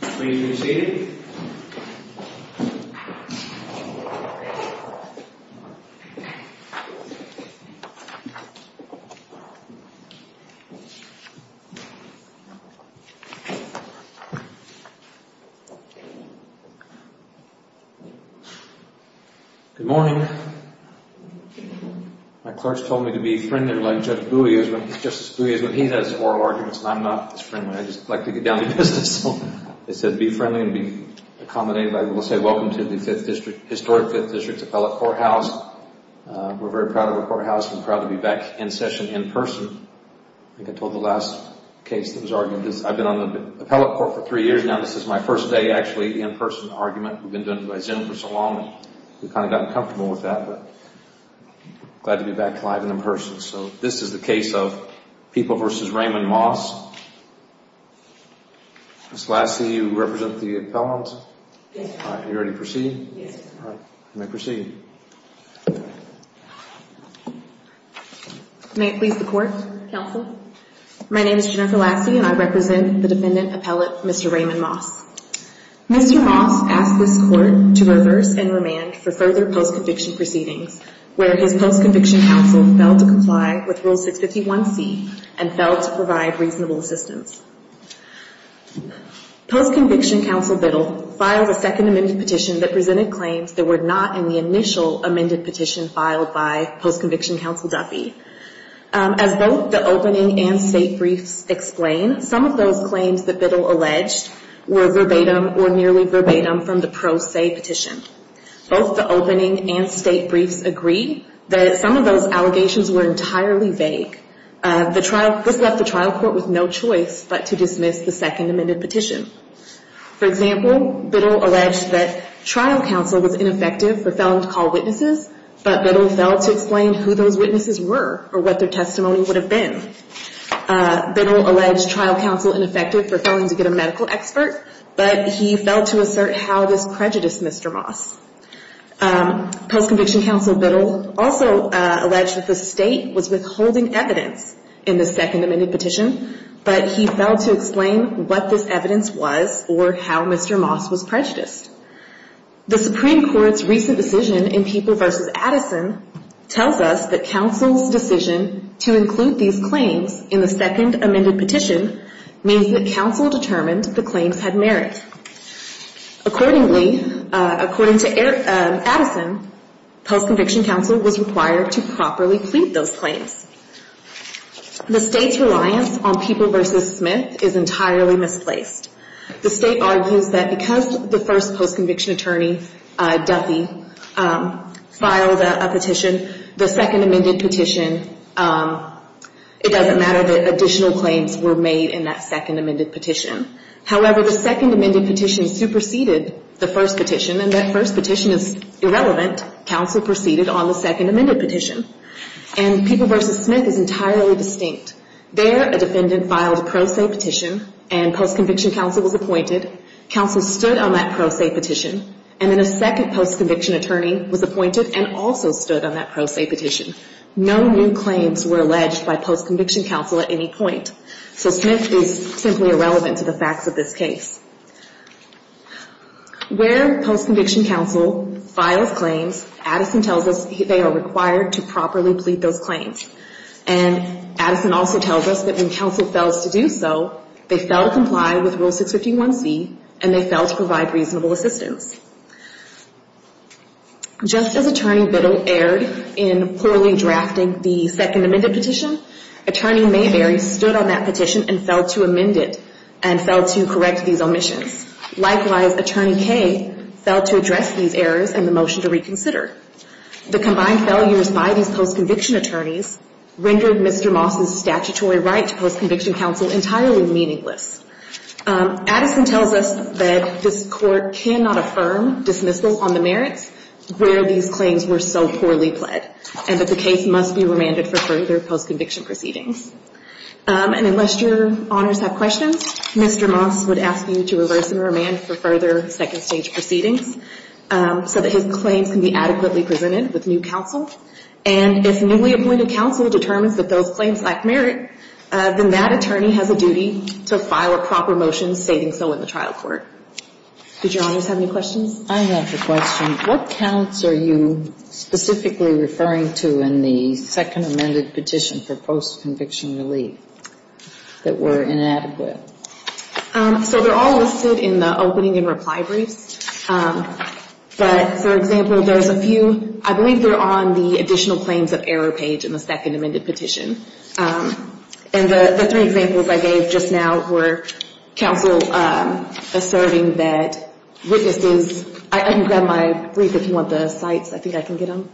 Please be seated. Good morning, my clerks told me to be friendly like Justice Bowie is when he has oral arguments and I'm not as friendly. I just like to get down to business. They said be friendly and be accommodated. I will say welcome to the historic 5th District's appellate courthouse. We're very proud of our courthouse and proud to be back in session in person. I think I told the last case that was argued. I've been on the appellate court for three years now. This is my first day actually in person argument. We've been doing it by Zoom for so long and we've kind of gotten comfortable with that but glad to be back live and in person. This is the case of People v. Raymond Moss. This is the case of People v. Raymond Moss. Miss Lassey, you represent the appellant? Yes. Alright, are you ready to proceed? Yes I am. Alright, you may proceed. May it please the court, counsel? My name is Jennifer Lassey and I represent the dependent appellate, Mr. Raymond Moss. Mr. Moss asked this court to reverse and remand for further post-conviction proceedings, where his post-conviction counsel failed to comply with rule 651-C and failed to provide reasonable assistance. Post-conviction counsel Biddle filed a second amended petition that presented claims that were not in the initial amended petition filed by post-conviction counsel Duffy. As both the opening and state briefs explain, some of those claims that Biddle alleged were verbatim or nearly verbatim from the pro se petition. Both the opening and state briefs agree that some of those allegations were entirely vague. This left the trial court with no choice but to dismiss the second amended petition. For example, Biddle alleged that trial counsel was ineffective for failing to call witnesses, but Biddle failed to explain who those witnesses were or what their testimony would have been. Biddle alleged trial counsel ineffective for failing to get a medical expert, but he failed to assert how this prejudiced Mr. Moss. Post-conviction counsel Biddle also alleged that the state was withholding evidence in the second amended petition, but he failed to explain what this evidence was or how Mr. Moss was prejudiced. The Supreme Court's recent decision in People v. Addison tells us that counsel's decision to include these claims in the second amended petition means that counsel determined the claims had merit. Accordingly, according to Addison, post-conviction counsel was required to properly plead those claims. The state's reliance on People v. Smith is entirely misplaced. The state argues that because the first post-conviction attorney, Duffy, filed a petition, the second amended petition, it doesn't matter that additional claims were made in that second amended petition. However, the second amended petition superseded the first petition, and that first petition is irrelevant. Counsel proceeded on the second amended petition, and People v. Smith is entirely distinct. There, a defendant filed a pro se petition, and post-conviction counsel was appointed. Counsel stood on that pro se petition, and then a second post-conviction attorney was appointed and also stood on that pro se petition. No new claims were alleged by post-conviction counsel at any point, so Smith is simply irrelevant to the facts of this case. Where post-conviction counsel files claims, Addison tells us they are required to properly plead those claims, and Addison also tells us that when counsel fails to do so, they fail to comply with Rule 651C, and they fail to provide reasonable assistance. Just as Attorney Biddle erred in poorly drafting the second amended petition, Attorney Mayberry stood on that petition and failed to amend it and failed to correct these omissions. Likewise, Attorney Kaye failed to address these errors in the motion to reconsider. The combined failures by these post-conviction attorneys rendered Mr. Moss's statutory right to post-conviction counsel entirely meaningless. Addison tells us that this Court cannot affirm dismissal on the merits where these claims were so poorly pled, and that the case must be remanded for further post-conviction proceedings. And unless Your Honors have questions, Mr. Moss would ask you to reverse and remand for further second stage proceedings so that his claims can be adequately presented with new counsel. And if newly appointed counsel determines that those claims lack merit, then that attorney has a duty to file a proper motion stating so in the trial court. Did Your Honors have any questions? I have a question. What counts are you specifically referring to in the second amended petition for post-conviction relief that were inadequate? So they're all listed in the opening and reply briefs. But, for example, there's a few, I believe they're on the additional claims of error page in the second amended petition. And the three examples I gave just now were counsel asserting that witnesses, I haven't got my brief. If you want the sites, I think I can get them.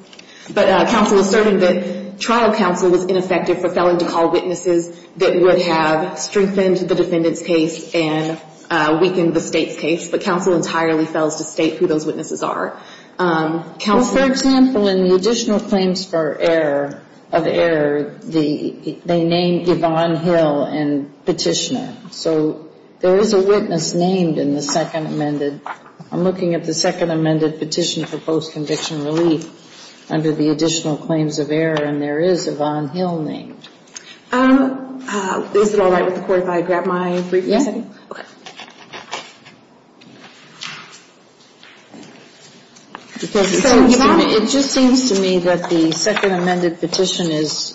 But counsel asserting that trial counsel was ineffective for failing to call witnesses that would have strengthened the defendant's case and weakened the State's case. But counsel entirely fails to state who those witnesses are. Counsel — Well, for example, in the additional claims for error, of error, they name Yvonne Hill and Petitioner. So there is a witness named in the second amended — I'm looking at the second amended petition for post-conviction relief under the additional claims of error. And there is a Yvonne Hill named. Is it all right with the Court if I grab my brief real quick? Yes. Okay. Because it seems to me — it just seems to me that the second amended petition is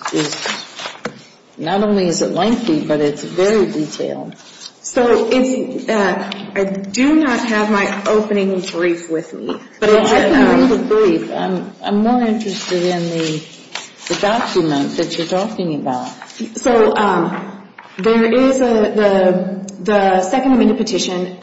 — not only is it lengthy, but it's very detailed. So it's — I do not have my opening brief with me. But it's a brief. I'm more interested in the document that you're talking about. So there is a — the second amended petition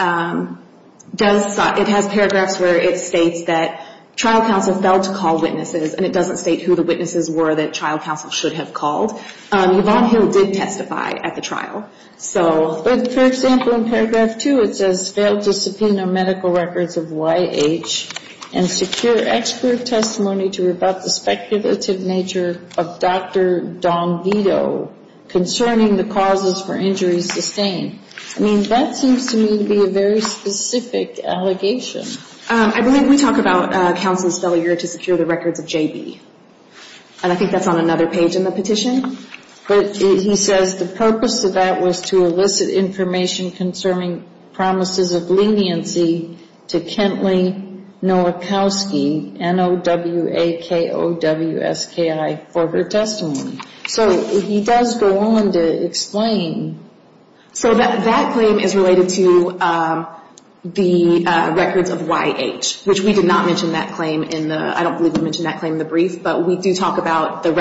does — it has paragraphs where it states that trial counsel failed to call witnesses, and it doesn't state who the witnesses were that trial counsel should have called. Yvonne Hill did testify at the trial. So — but, for example, in paragraph two, it says, failed to subpoena medical records of Y.H. and secure expert testimony to rebut the speculative nature of Dr. Don Vito concerning the causes for injuries sustained. I mean, that seems to me to be a very specific allegation. I believe we talk about counsel's failure to secure the records of J.B., and I think that's on another page in the petition. But he says the purpose of that was to elicit information concerning promises of leniency to Kentley Nowakowski, N-O-W-A-K-O-W-S-K-I, for her testimony. So he does go on to explain. So that claim is related to the records of Y.H., which we did not mention that claim in the — I don't believe we mentioned that claim in the brief, but we do talk about the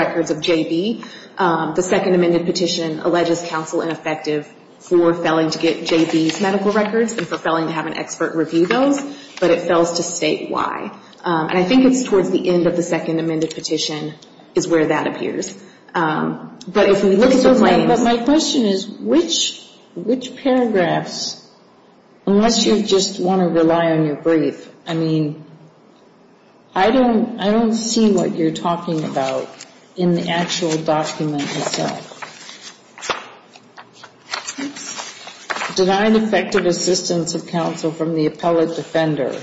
second amended petition alleges counsel ineffective for failing to get J.B.'s medical records and for failing to have an expert review those, but it fails to state why. And I think it's towards the end of the second amended petition is where that appears. But if we look at the claims — But my question is, which paragraphs — unless you just want to rely on your brief, I mean, I don't see what you're talking about in the actual document itself. Denied effective assistance of counsel from the appellate defender.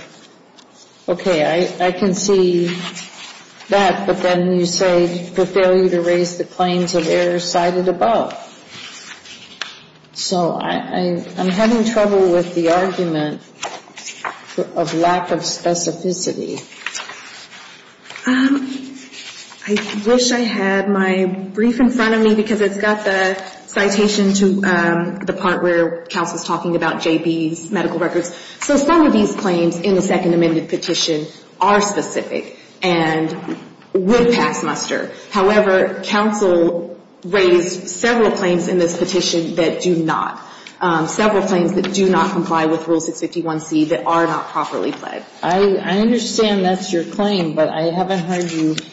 Okay, I can see that, but then you say for failure to raise the claims of error cited above. So I'm having trouble with the argument of lack of specificity. I wish I had my brief in front of me because it's got the citation to the part where counsel's talking about J.B.'s medical records. So some of these claims in the second amended petition are specific and would pass muster. However, counsel raised several claims in this petition that do not. Several claims that do not comply with Rule 651C that are not properly pled. I understand that's your claim, but I haven't heard you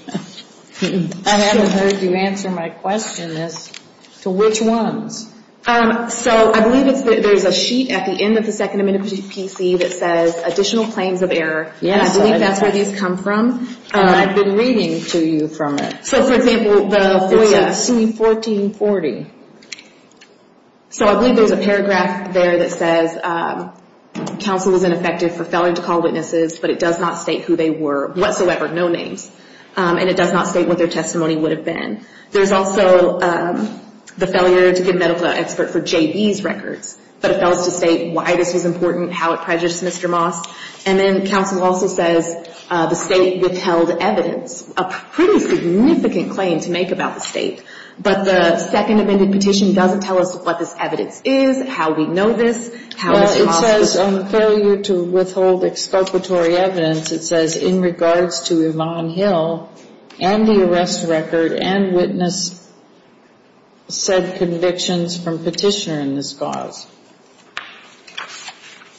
answer my question as to which ones. So I believe there's a sheet at the end of the second amended petition that says additional claims of error. Yes. And I believe that's where these come from. And I've been reading to you from it. So for example, the FOIA. It's in C1440. So I believe there's a paragraph there that says counsel is ineffective for failure to call witnesses, but it does not state who they were whatsoever, no names. And it does not state what their testimony would have been. There's also the failure to give medical expert for J.B.'s records, but it fails to state why this was important, how it prejudiced Mr. Moss. And then counsel also says the state withheld evidence, a pretty significant claim to make about the state, but the second amended petition doesn't tell us what this evidence is, how we know this, how it's possible. Well, it says on the failure to withhold exculpatory evidence, it says in regards to Yvonne Hill and the arrest record and witness said convictions from petitioner in this cause.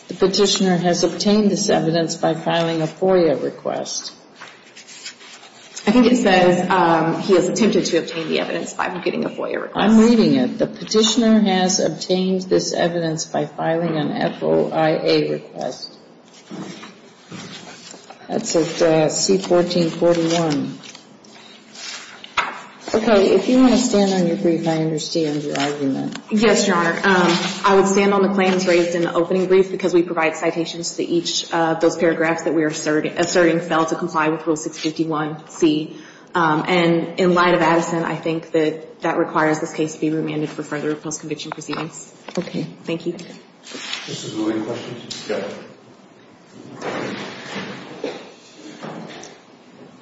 The petitioner has obtained this evidence by filing a FOIA request. I think it says he has attempted to obtain the evidence by getting a FOIA request. I'm reading it. The petitioner has obtained this evidence by filing an FOIA request. That's at C1441. Okay. If you want to stand on your brief, I understand your argument. Yes, Your Honor. I would stand on the claims raised in the opening brief because we provide citations to each of those paragraphs that we are asserting fell to comply with Rule 651C. And in light of Addison, I think that that requires this case to be remanded for further post-conviction proceedings. Okay. Thank you. This is a moving question. Yes.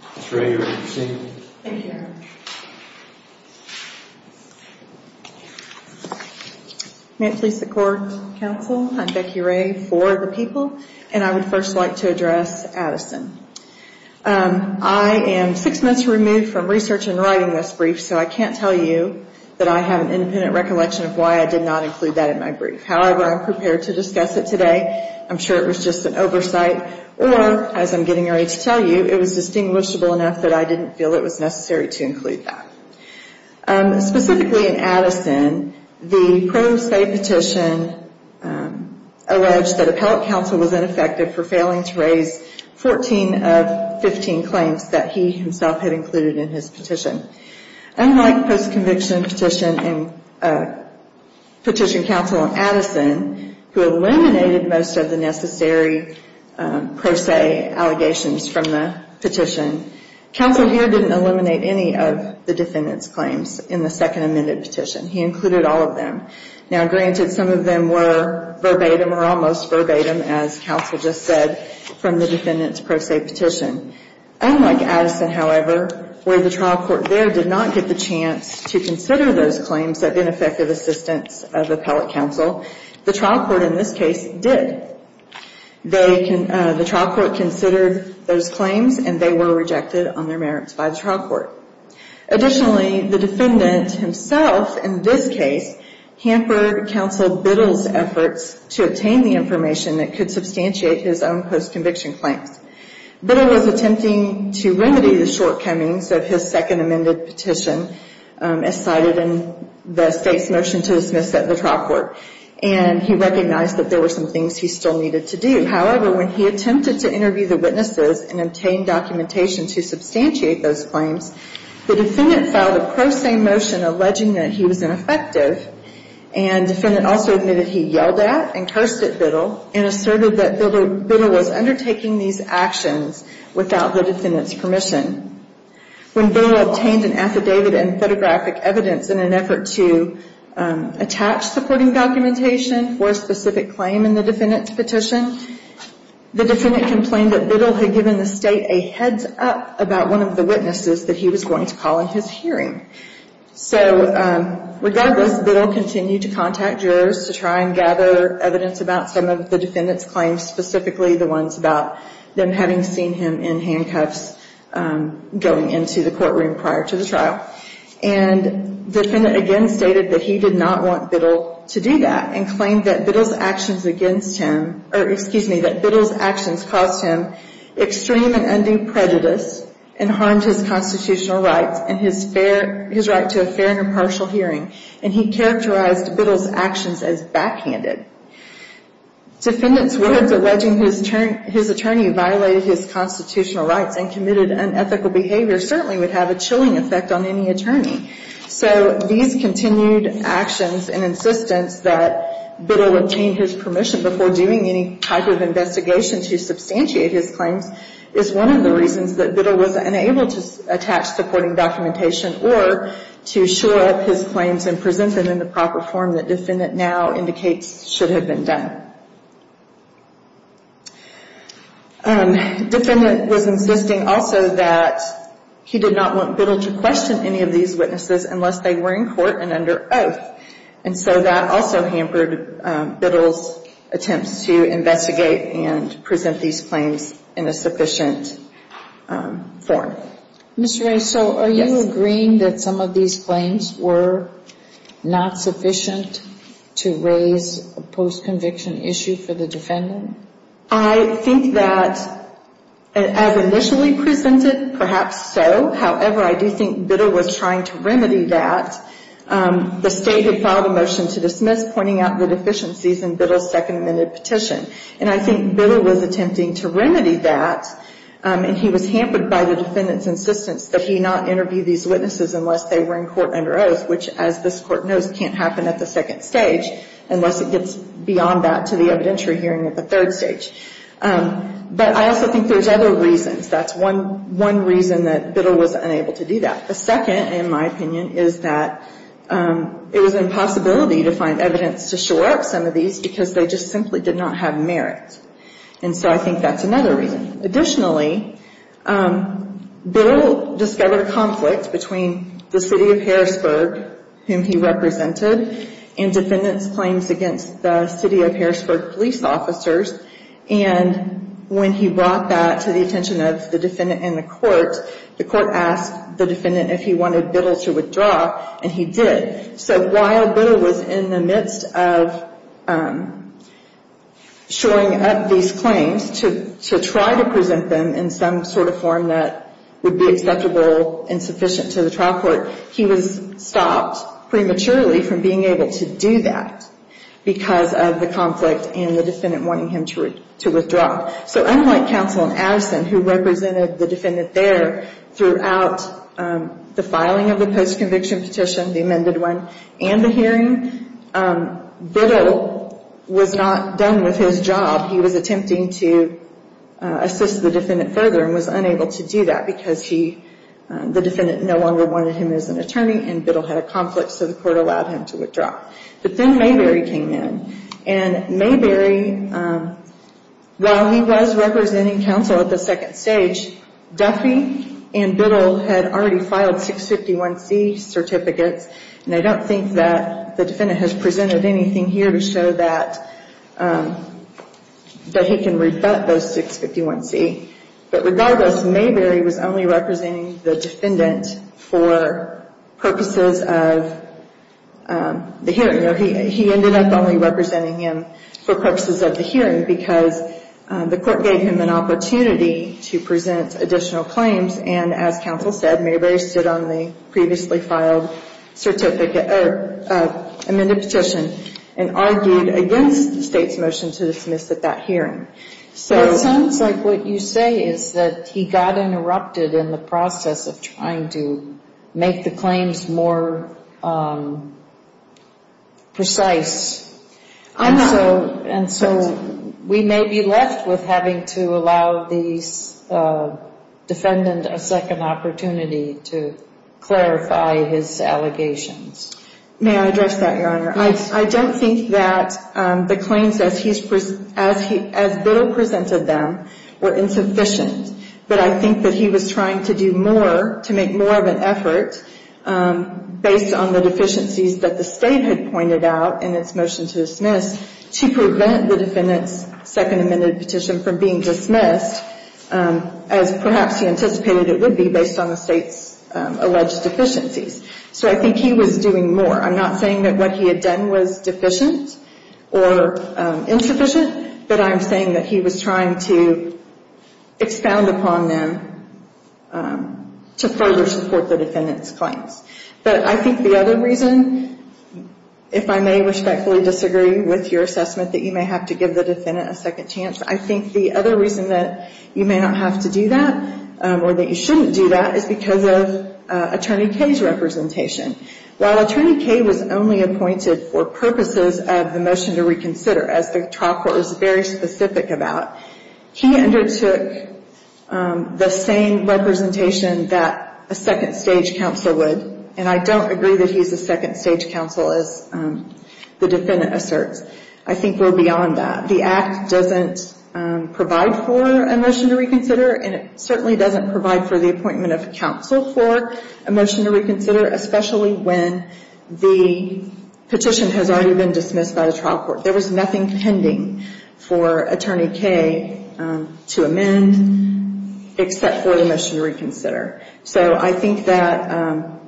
Thank you, Your Honor. Thank you, Your Honor. May it please the Court, Counsel, I'm Becky Ray for the people. And I would first like to address Addison. I am six months removed from research and writing this brief, so I can't tell you that I have an independent recollection of why I did not include that in my brief. However, I'm prepared to discuss it today. I'm sure it was just an oversight or, as I'm getting ready to tell you, it was distinguishable enough that I didn't feel it was necessary to include that. Specifically in Addison, the pro se petition alleged that appellate counsel was ineffective for failing to raise 14 of 15 claims that he himself had included in his petition. Unlike post-conviction petition and petition counsel in Addison, who eliminated most of the necessary pro se allegations from the petition, counsel here didn't eliminate any of the defendant's claims in the second amended petition. He included all of them. Now, granted, some of them were verbatim or almost verbatim, as counsel just said, from the defendant's pro se petition. Unlike Addison, however, where the trial court there did not get the chance to consider those claims of ineffective assistance of appellate counsel, the trial court in this case did. The trial court considered those claims and they were rejected on their merits by the trial court. Additionally, the defendant himself, in this case, hampered counsel Biddle's efforts to obtain the information that could substantiate his own post-conviction claims. Biddle was attempting to remedy the shortcomings of his second amended petition as cited in the state's motion to dismiss at the trial court, and he recognized that there were some things he still needed to do. However, when he attempted to interview the witnesses and obtain documentation to substantiate those claims, the defendant filed a pro se motion alleging that he was ineffective, and the defendant also admitted he yelled at and cursed at Biddle and asserted that Biddle was undertaking these actions without the defendant's permission. When Biddle obtained an affidavit and photographic evidence in an effort to attach supporting documentation for a specific claim in the defendant's petition, the defendant complained that Biddle had given the state a heads up about one of the witnesses that he was going to call in his hearing. So regardless, Biddle continued to contact jurors to try and gather evidence about some of the defendant's claims, specifically the ones about them having seen him in handcuffs going into the courtroom prior to the trial, and the defendant again stated that he did not want Biddle to do that and claimed that Biddle's actions against him, or excuse me, that Biddle's actions caused him extreme and undue prejudice and harmed his constitutional rights and his right to a fair and impartial hearing, and he characterized Biddle's actions as backhanded. Defendant's words alleging his attorney violated his constitutional rights and committed unethical behavior certainly would have a chilling effect on any attorney. So these continued actions and insistence that Biddle obtained his permission before doing any type of investigation to substantiate his claims is one of the reasons that Biddle was unable to attach supporting documentation or to shore up his claims and present them in the proper form that defendant now indicates should have been done. Defendant was insisting also that he did not want Biddle to question any of these witnesses unless they were in court and under oath, and so that also hampered Biddle's attempts to investigate and present these claims in a sufficient form. Ms. Ray, so are you agreeing that some of these claims were not sufficient to raise a post-conviction issue for the defendant? I think that as initially presented, perhaps so. However, I do think Biddle was trying to remedy that. The State had filed a motion to dismiss, pointing out the deficiencies in Biddle's second amended petition, and I think Biddle was attempting to remedy that, and he was hampered by the defendant's insistence that he not interview these witnesses unless they were in court under oath, which as this Court knows can't happen at the second stage unless it gets beyond that to the evidentiary hearing at the third stage. But I also think there's other reasons. That's one reason that Biddle was unable to do that. The second, in my opinion, is that it was an impossibility to find evidence to shore up some of these because they just simply did not have merit, and so I think that's another reason. Additionally, Biddle discovered a conflict between the City of Harrisburg, whom he represented, and defendants' claims against the City of Harrisburg police officers, and when he brought that to the attention of the defendant in the court, the court asked the defendant if he wanted Biddle to withdraw, and he did. So while Biddle was in the midst of shoring up these claims to try to present them in some sort of form that would be acceptable and sufficient to the trial court, he was stopped prematurely from being able to do that because of the conflict and the defendant wanting him to withdraw. So unlike counsel in Addison, who represented the defendant there throughout the filing of the post-conviction petition, the amended one, and the hearing, Biddle was not done with his job. He was attempting to assist the defendant further and was unable to do that because he, the defendant no longer wanted him as an attorney and Biddle had a conflict, so the court allowed him to withdraw. But then Mayberry came in, and Mayberry, while he was representing counsel at the second stage, Duffy and Biddle had already filed 651C certificates, and I don't think that the defendant has presented anything here to show that he can rebut those 651C. But regardless, Mayberry was only representing the defendant for purposes of the hearing. He ended up only representing him for purposes of the hearing because the court gave him an opportunity to present additional claims, and as counsel said, Mayberry stood on the previously filed amended petition and argued against the State's motion to dismiss at that hearing. It sounds like what you say is that he got interrupted in the process of trying to make the claims more precise, and so we may be left with having to allow the defendant a second opportunity to clarify his allegations. May I address that, Your Honor? Yes. I don't think that the claims as Biddle presented them were insufficient, but I think that he was trying to do more, to make more of an effort, based on the deficiencies that the State had pointed out in its motion to dismiss, to prevent the defendant's second amended petition from being dismissed, as perhaps he anticipated it would be based on the State's alleged deficiencies. So I think he was doing more. I'm not saying that what he had done was deficient or insufficient, but I'm saying that he was trying to expound upon them to further support the defendant's claims. But I think the other reason, if I may respectfully disagree with your assessment that you may have to give the defendant a second chance, I think the other reason that you may not have to do that or that you shouldn't do that is because of Attorney Kaye's representation. While Attorney Kaye was only appointed for purposes of the motion to reconsider, as the trial court was very specific about, he undertook the same representation that a second-stage counsel would, and I don't agree that he's a second-stage counsel, as the defendant asserts. I think we're beyond that. The Act doesn't provide for a motion to reconsider, and it certainly doesn't provide for the appointment of counsel for a motion to reconsider, especially when the petition has already been dismissed by the trial court. There was nothing pending for Attorney Kaye to amend except for the motion to reconsider. So I think that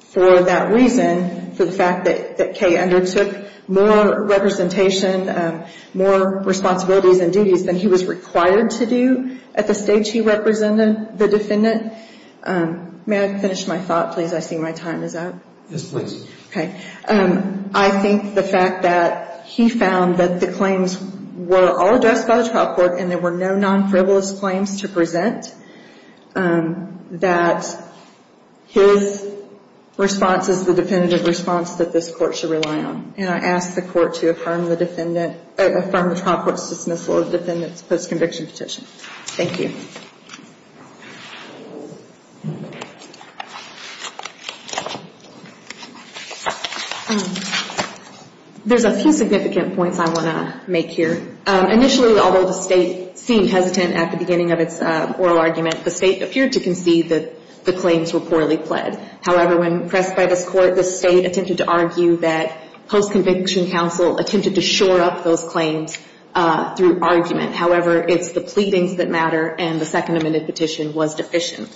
for that reason, for the fact that Kaye undertook more representation, more responsibilities and duties than he was required to do at the stage he represented the defendant. May I finish my thought, please? I see my time is up. Yes, please. Okay. I think the fact that he found that the claims were all addressed by the trial court and there were no non-frivolous claims to present, that his response is the definitive response that this Court should rely on, and I ask the Court to affirm the trial court's dismissal of the defendant's post-conviction petition. Thank you. Thank you. There's a few significant points I want to make here. Initially, although the State seemed hesitant at the beginning of its oral argument, the State appeared to concede that the claims were poorly pled. However, when pressed by this Court, the State attempted to argue that post-conviction counsel attempted to shore up those claims through argument. However, it's the pleadings that matter, and the second amended petition was deficient.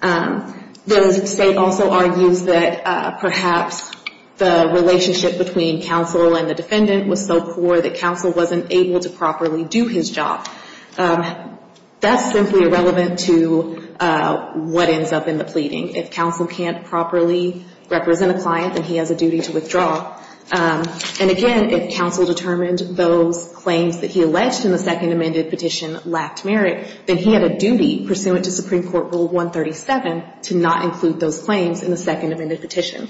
The State also argues that perhaps the relationship between counsel and the defendant was so poor that counsel wasn't able to properly do his job. That's simply irrelevant to what ends up in the pleading. If counsel can't properly represent a client, then he has a duty to withdraw. And, again, if counsel determined those claims that he alleged in the second amended petition lacked merit, then he had a duty pursuant to Supreme Court Rule 137 to not include those claims in the second amended petition.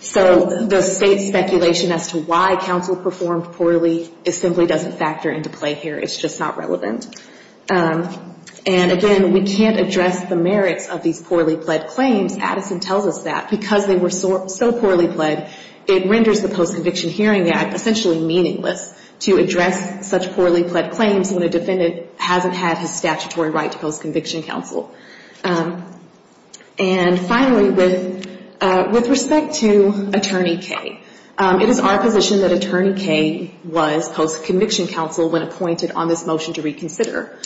So the State's speculation as to why counsel performed poorly simply doesn't factor into play here. It's just not relevant. And, again, we can't address the merits of these poorly pled claims. Addison tells us that because they were so poorly pled, it renders the Post-Conviction Hearing Act essentially meaningless to address such poorly pled claims when a defendant hasn't had his statutory right to post-conviction counsel. And, finally, with respect to Attorney K, it is our position that Attorney K was post-conviction counsel when appointed on this motion to reconsider.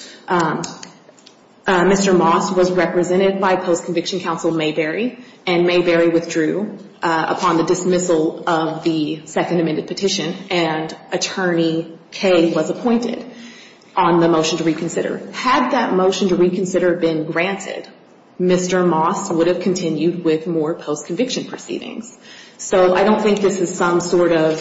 Mr. Moss was represented by post-conviction counsel Mayberry, and Mayberry withdrew upon the dismissal of the second amended petition, and Attorney K was appointed on the motion to reconsider. Had that motion to reconsider been granted, Mr. Moss would have continued with more post-conviction proceedings. So I don't think this is some sort of,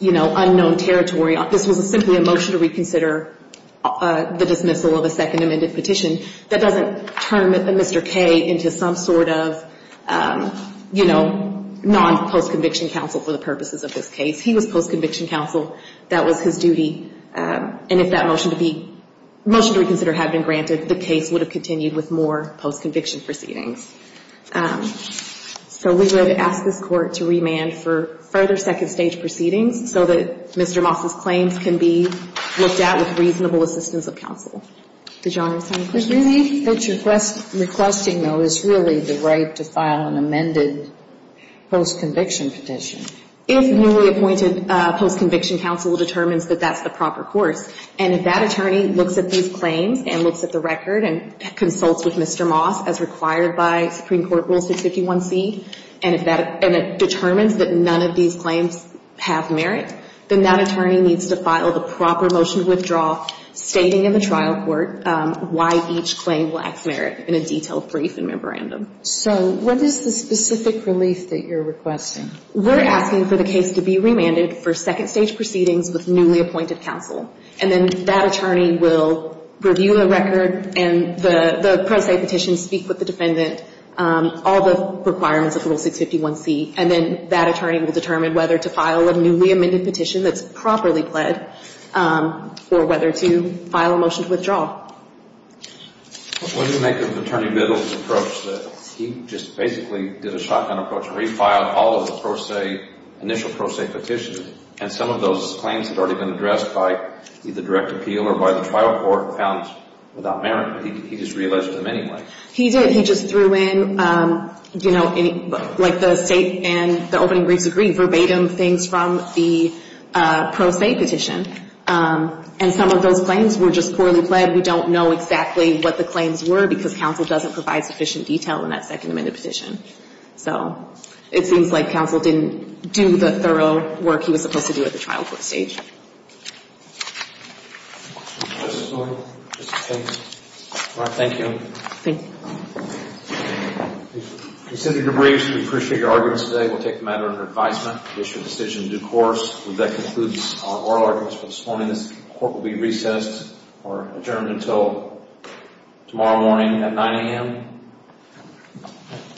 you know, unknown territory. This was simply a motion to reconsider the dismissal of the second amended petition. That doesn't turn Mr. K into some sort of, you know, non-post-conviction counsel for the purposes of this case. He was post-conviction counsel. That was his duty. And if that motion to reconsider had been granted, the case would have continued with more post-conviction proceedings. So we would ask this Court to remand for further second-stage proceedings so that Mr. Moss's claims can be looked at with reasonable assistance of counsel. Did Your Honor have a second question? Is it really that you're requesting, though, is really the right to file an amended post-conviction petition? If newly appointed post-conviction counsel determines that that's the proper course, and if that attorney looks at these claims and looks at the record and consults with Mr. Moss as required by Supreme Court Rule 651C, and it determines that none of these claims have merit, then that attorney needs to file the proper motion to withdraw, stating in the trial court why each claim lacks merit in a detailed brief and memorandum. So what is the specific relief that you're requesting? We're asking for the case to be remanded for second-stage proceedings with newly appointed counsel. And then that attorney will review the record and the pro se petition, speak with the defendant, all the requirements of Rule 651C, and then that attorney will determine whether to file a newly amended petition that's properly pled or whether to file a motion to withdraw. Wouldn't it make Attorney Biddle's approach that he just basically did a shotgun approach where he filed all of the pro se, initial pro se petitions, and some of those claims had already been addressed by either direct appeal or by the trial court found without merit, but he just realized them anyway? He did. He just threw in, you know, like the state and the opening briefs agree, verbatim things from the pro se petition, and some of those claims were just poorly pled. We don't know exactly what the claims were because counsel doesn't provide sufficient detail in that second amended petition. So it seems like counsel didn't do the thorough work he was supposed to do at the trial court stage. Thank you. Thank you. Thank you. We've considered the briefs. We appreciate your arguments today. We'll take the matter under advisement to issue a decision in due course. That concludes our oral arguments for this morning. This court will be recessed or adjourned until tomorrow morning at 9 a.m. Thank you.